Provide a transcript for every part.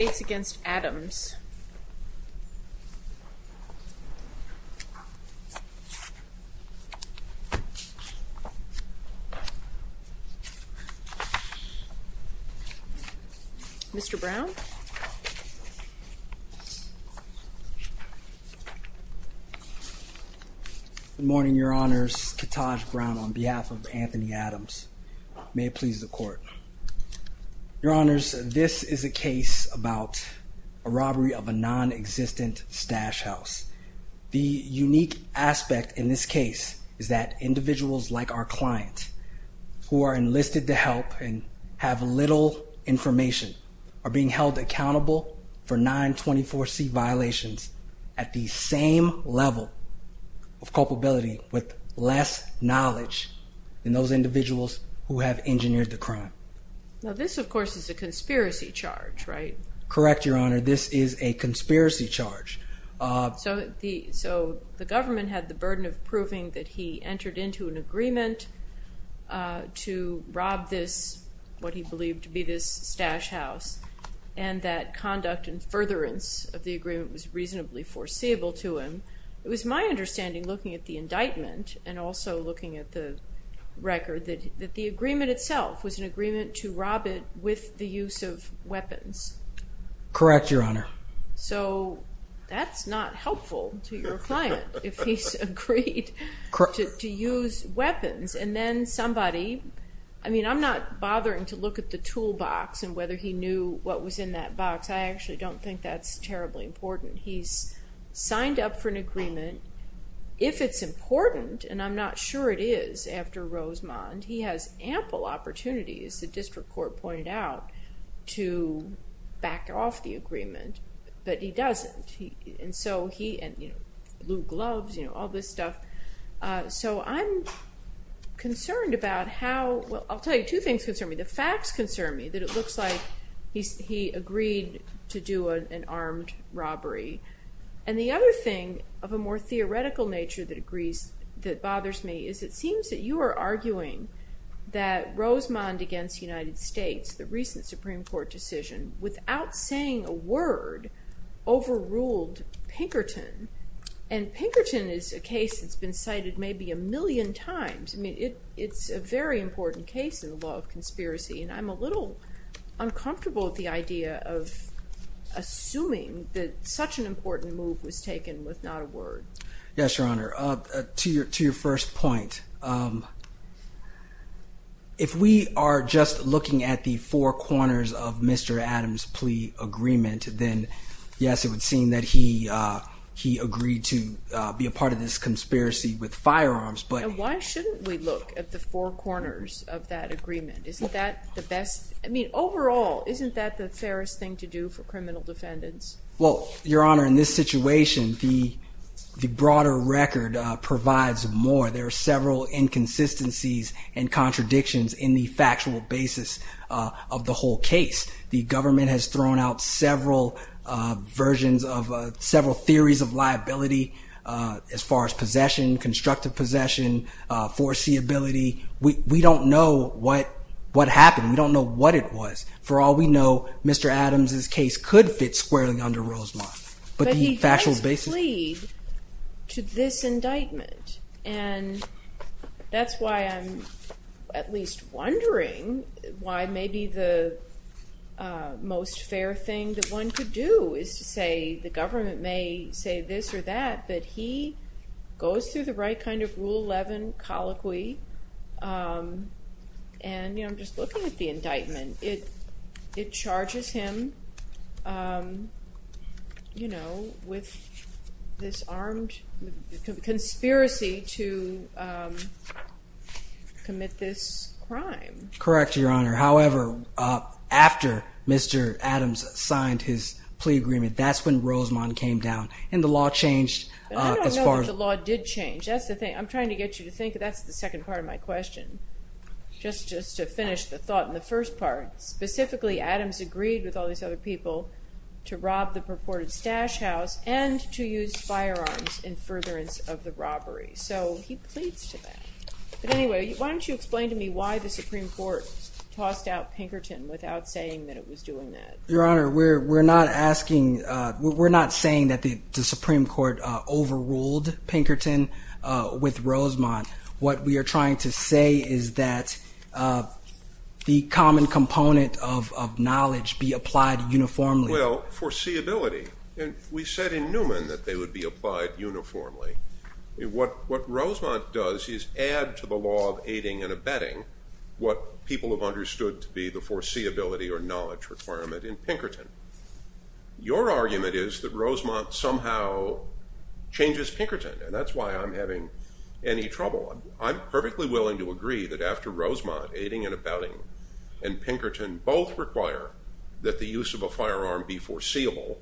States v. Adams Mr. Brown Good morning, Your Honors. Ketaj Brown on behalf of Anthony Adams. May it please the Court. Your Honors, this is a case about a robbery of a non-existent stash house. The unique aspect in this case is that individuals like our client, who are enlisted to help and have little information, are being held accountable for 924C violations at the same level of culpability with less knowledge than those individuals who have engineered the crime. Now this, of course, is a conspiracy charge, right? Correct, Your Honor. This is a conspiracy charge. So the government had the burden of proving that he entered into an agreement to rob this, what he believed to be this stash house, and that conduct and furtherance of the agreement was reasonably foreseeable to him. It was my understanding, looking at the indictment and also looking at the record, that the agreement itself was an agreement to rob it with the use of weapons. Correct, Your Honor. So that's not helpful to your client if he's agreed to use weapons. And then somebody, I mean, I'm not bothering to look at the toolbox and whether he knew what was in that box. I actually don't think that's terribly important. If it's important, and I'm not sure it is after Rosemond, he has ample opportunities, the district court pointed out, to back off the agreement, but he doesn't. And so he, you know, blue gloves, all this stuff. So I'm concerned about how, well, I'll tell you two things concern me. The facts concern me, that it looks like he agreed to do an armed robbery. And the other thing of a more theoretical nature that agrees, that bothers me, is it seems that you are arguing that Rosemond against United States, the recent Supreme Court decision, without saying a word, overruled Pinkerton. And Pinkerton is a case that's been cited maybe a million times. I mean, it's a very important case in the law of conspiracy. And I'm a little uncomfortable with the idea of assuming that such an important move was taken with not a word. Yes, Your Honor. To your first point, if we are just looking at the four corners of Mr. Adams' plea agreement, then yes, it would seem that he agreed to be a part of this conspiracy with firearms. And why shouldn't we look at the four corners of that agreement? Isn't that the best? I mean, overall, isn't that the fairest thing to do for criminal defendants? Well, Your Honor, in this situation, the broader record provides more. There are several inconsistencies and contradictions in the factual basis of the whole case. The government has thrown out several versions of several theories of liability as far as possession, constructive possession, foreseeability. We don't know what happened. We don't know what it was. For all we know, Mr. Adams' case could fit squarely under Rosemond. But the factual basis. But he does plead to this indictment. And that's why I'm at least wondering why maybe the most fair thing that one could do is to say the government may say this or that, but he goes through the right kind of Rule 11 colloquy. And I'm just looking at the indictment. It charges him with this armed conspiracy to commit this crime. Correct, Your Honor. However, after Mr. Adams signed his plea agreement, that's when Rosemond came down. And the law changed. I don't know if the law did change. That's the thing. I'm trying to get you to think. That's the second part of my question. Just to finish the thought in the first part. Specifically, Adams agreed with all these other people to rob the purported stash house and to use firearms in furtherance of the robbery. So he pleads to that. But anyway, why don't you explain to me why the Supreme Court tossed out Pinkerton without saying that it was doing that? Your Honor, we're not asking. We're not saying that the Supreme Court overruled Pinkerton with Rosemond. What we are trying to say is that the common component of knowledge be applied uniformly. Well, foreseeability. We said in Newman that they would be applied uniformly. What Rosemond does is add to the law of aiding and abetting what people have understood to be the foreseeability or knowledge requirement in Pinkerton. Your argument is that Rosemond somehow changes Pinkerton, and that's why I'm having any trouble. I'm perfectly willing to agree that after Rosemond, aiding and abetting, and Pinkerton both require that the use of a firearm be foreseeable,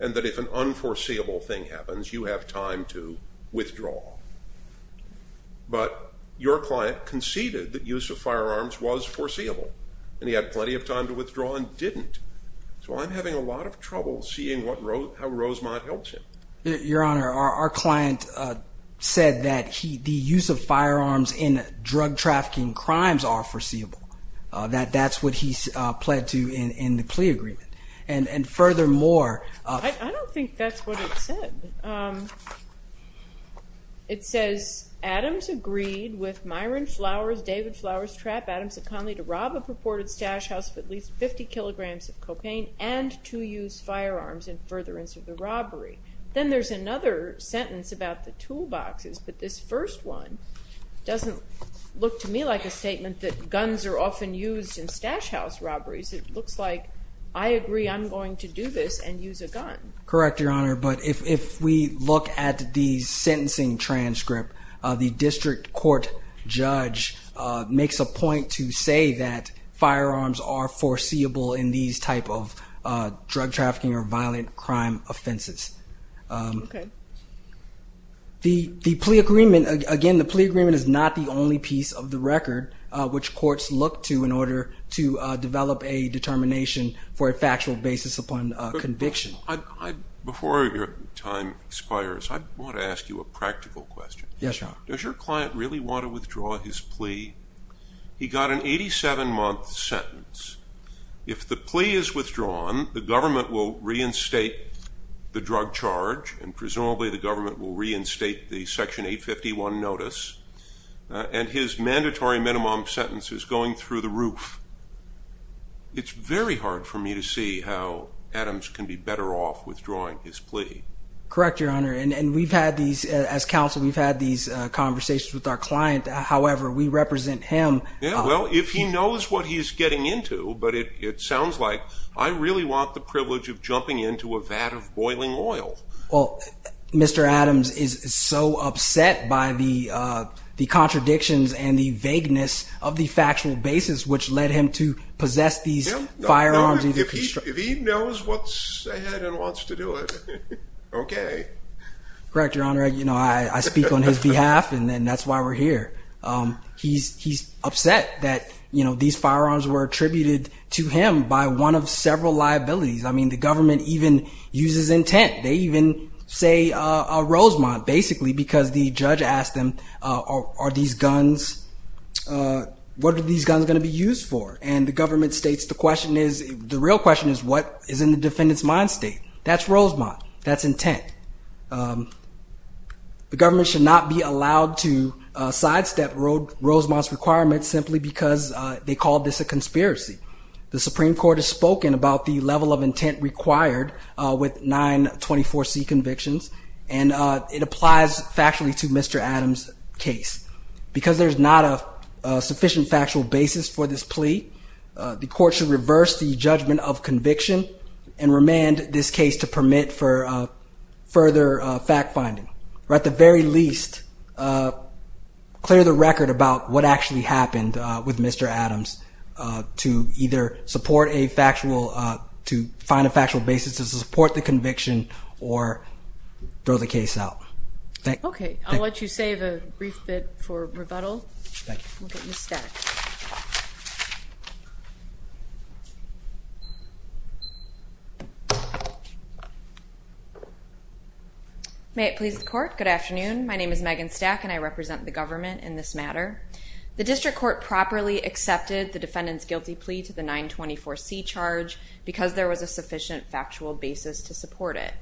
and that if an unforeseeable thing happens, you have time to withdraw. But your client conceded that use of firearms was foreseeable, and he had plenty of time to withdraw and didn't. So I'm having a lot of trouble seeing how Rosemond helps him. Your Honor, our client said that the use of firearms in drug trafficking crimes are foreseeable. That's what he pled to in the plea agreement. And furthermore— I don't think that's what it said. It says, Adams agreed with Myron Flowers, David Flowers, Trapp, Adams, and Conley to rob a purported stash house of at least 50 kilograms of copaint and to use firearms in furtherance of the robbery. Then there's another sentence about the toolboxes, but this first one doesn't look to me like a statement that guns are often used in stash house robberies. It looks like I agree I'm going to do this and use a gun. Correct, Your Honor, but if we look at the sentencing transcript, the district court judge makes a point to say that firearms are foreseeable in these type of drug trafficking or violent crime offenses. The plea agreement, again, the plea agreement is not the only piece of the record which courts look to in order to develop a determination for a factual basis upon conviction. Before your time expires, I want to ask you a practical question. Yes, Your Honor. Does your client really want to withdraw his plea? He got an 87-month sentence. If the plea is withdrawn, the government will reinstate the drug charge, and presumably the government will reinstate the Section 851 notice, and his mandatory minimum sentence is going through the roof. It's very hard for me to see how Adams can be better off withdrawing his plea. Correct, Your Honor, and we've had these, as counsel, we've had these conversations with our client. However, we represent him. Yeah, well, if he knows what he's getting into, but it sounds like I really want the privilege of jumping into a vat of boiling oil. Well, Mr. Adams is so upset by the contradictions and the vagueness of the factual basis which led him to possess these firearms. If he knows what's ahead and wants to do it, okay. Correct, Your Honor. I speak on his behalf, and that's why we're here. He's upset that these firearms were attributed to him by one of several liabilities. I mean, the government even uses intent. They even say a Rosemont, basically, because the judge asked him, are these guns, what are these guns going to be used for? And the government states the question is, the real question is, what is in the defendant's mind state? That's Rosemont. That's intent. The government should not be allowed to sidestep Rosemont's requirements simply because they called this a conspiracy. The Supreme Court has spoken about the level of intent required with nine 24C convictions, and it applies factually to Mr. Adams' case. Because there's not a sufficient factual basis for this plea, the court should reverse the judgment of conviction and remand this case to permit for further fact finding. Or at the very least, clear the record about what actually happened with Mr. Adams to either find a factual basis to support the conviction or throw the case out. Okay. I'll let you save a brief bit for rebuttal. Thank you. We'll get you stacked. May it please the court. Good afternoon. My name is Megan Stack, and I represent the government in this matter. The district court properly accepted the defendant's guilty plea to the nine 24C charge because there was a sufficient factual basis to support it.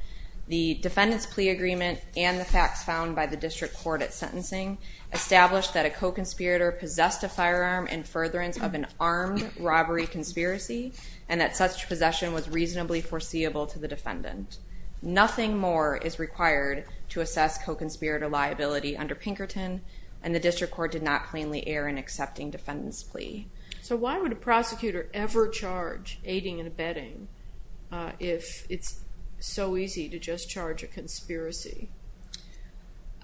The defendant's plea agreement and the facts found by the district court at sentencing established that a co-conspirator possessed a firearm in furtherance of an armed robbery conspiracy, and that such possession was reasonably foreseeable to the defendant. Nothing more is required to assess co-conspirator liability under Pinkerton, and the district court did not plainly err in accepting defendant's plea. So why would a prosecutor ever charge aiding and abetting if it's so easy to just charge a conspiracy?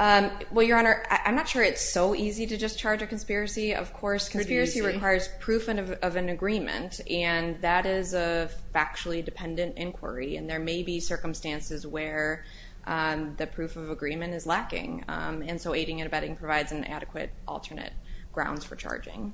Well, Your Honor, I'm not sure it's so easy to just charge a conspiracy. Of course, conspiracy requires proof of an agreement, and that is a factually dependent inquiry, and there may be circumstances where the proof of agreement is lacking. And so aiding and abetting provides an adequate alternate grounds for charging.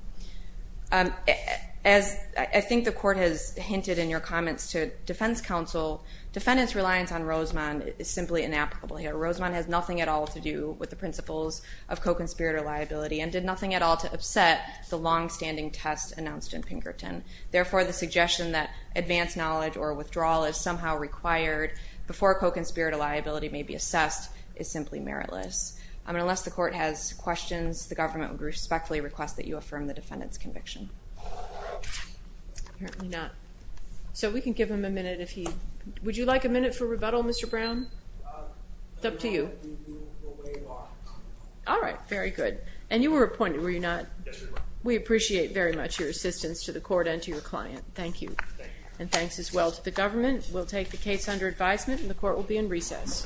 As I think the court has hinted in your comments to defense counsel, defendant's reliance on Rosemond is simply inapplicable here. Rosemond has nothing at all to do with the principles of co-conspirator liability and did nothing at all to upset the longstanding test announced in Pinkerton. Therefore, the suggestion that advanced knowledge or withdrawal is somehow required before co-conspirator liability may be assessed is simply meritless. Unless the court has questions, the government would respectfully request that you affirm the defendant's conviction. Apparently not. So we can give him a minute if he... Would you like a minute for rebuttal, Mr. Brown? It's up to you. All right, very good. Yes, Your Honor. We appreciate very much your assistance to the court and to your client. Thank you. And thanks as well to the government. We'll take the case under advisement and the court will be in recess. Thank you.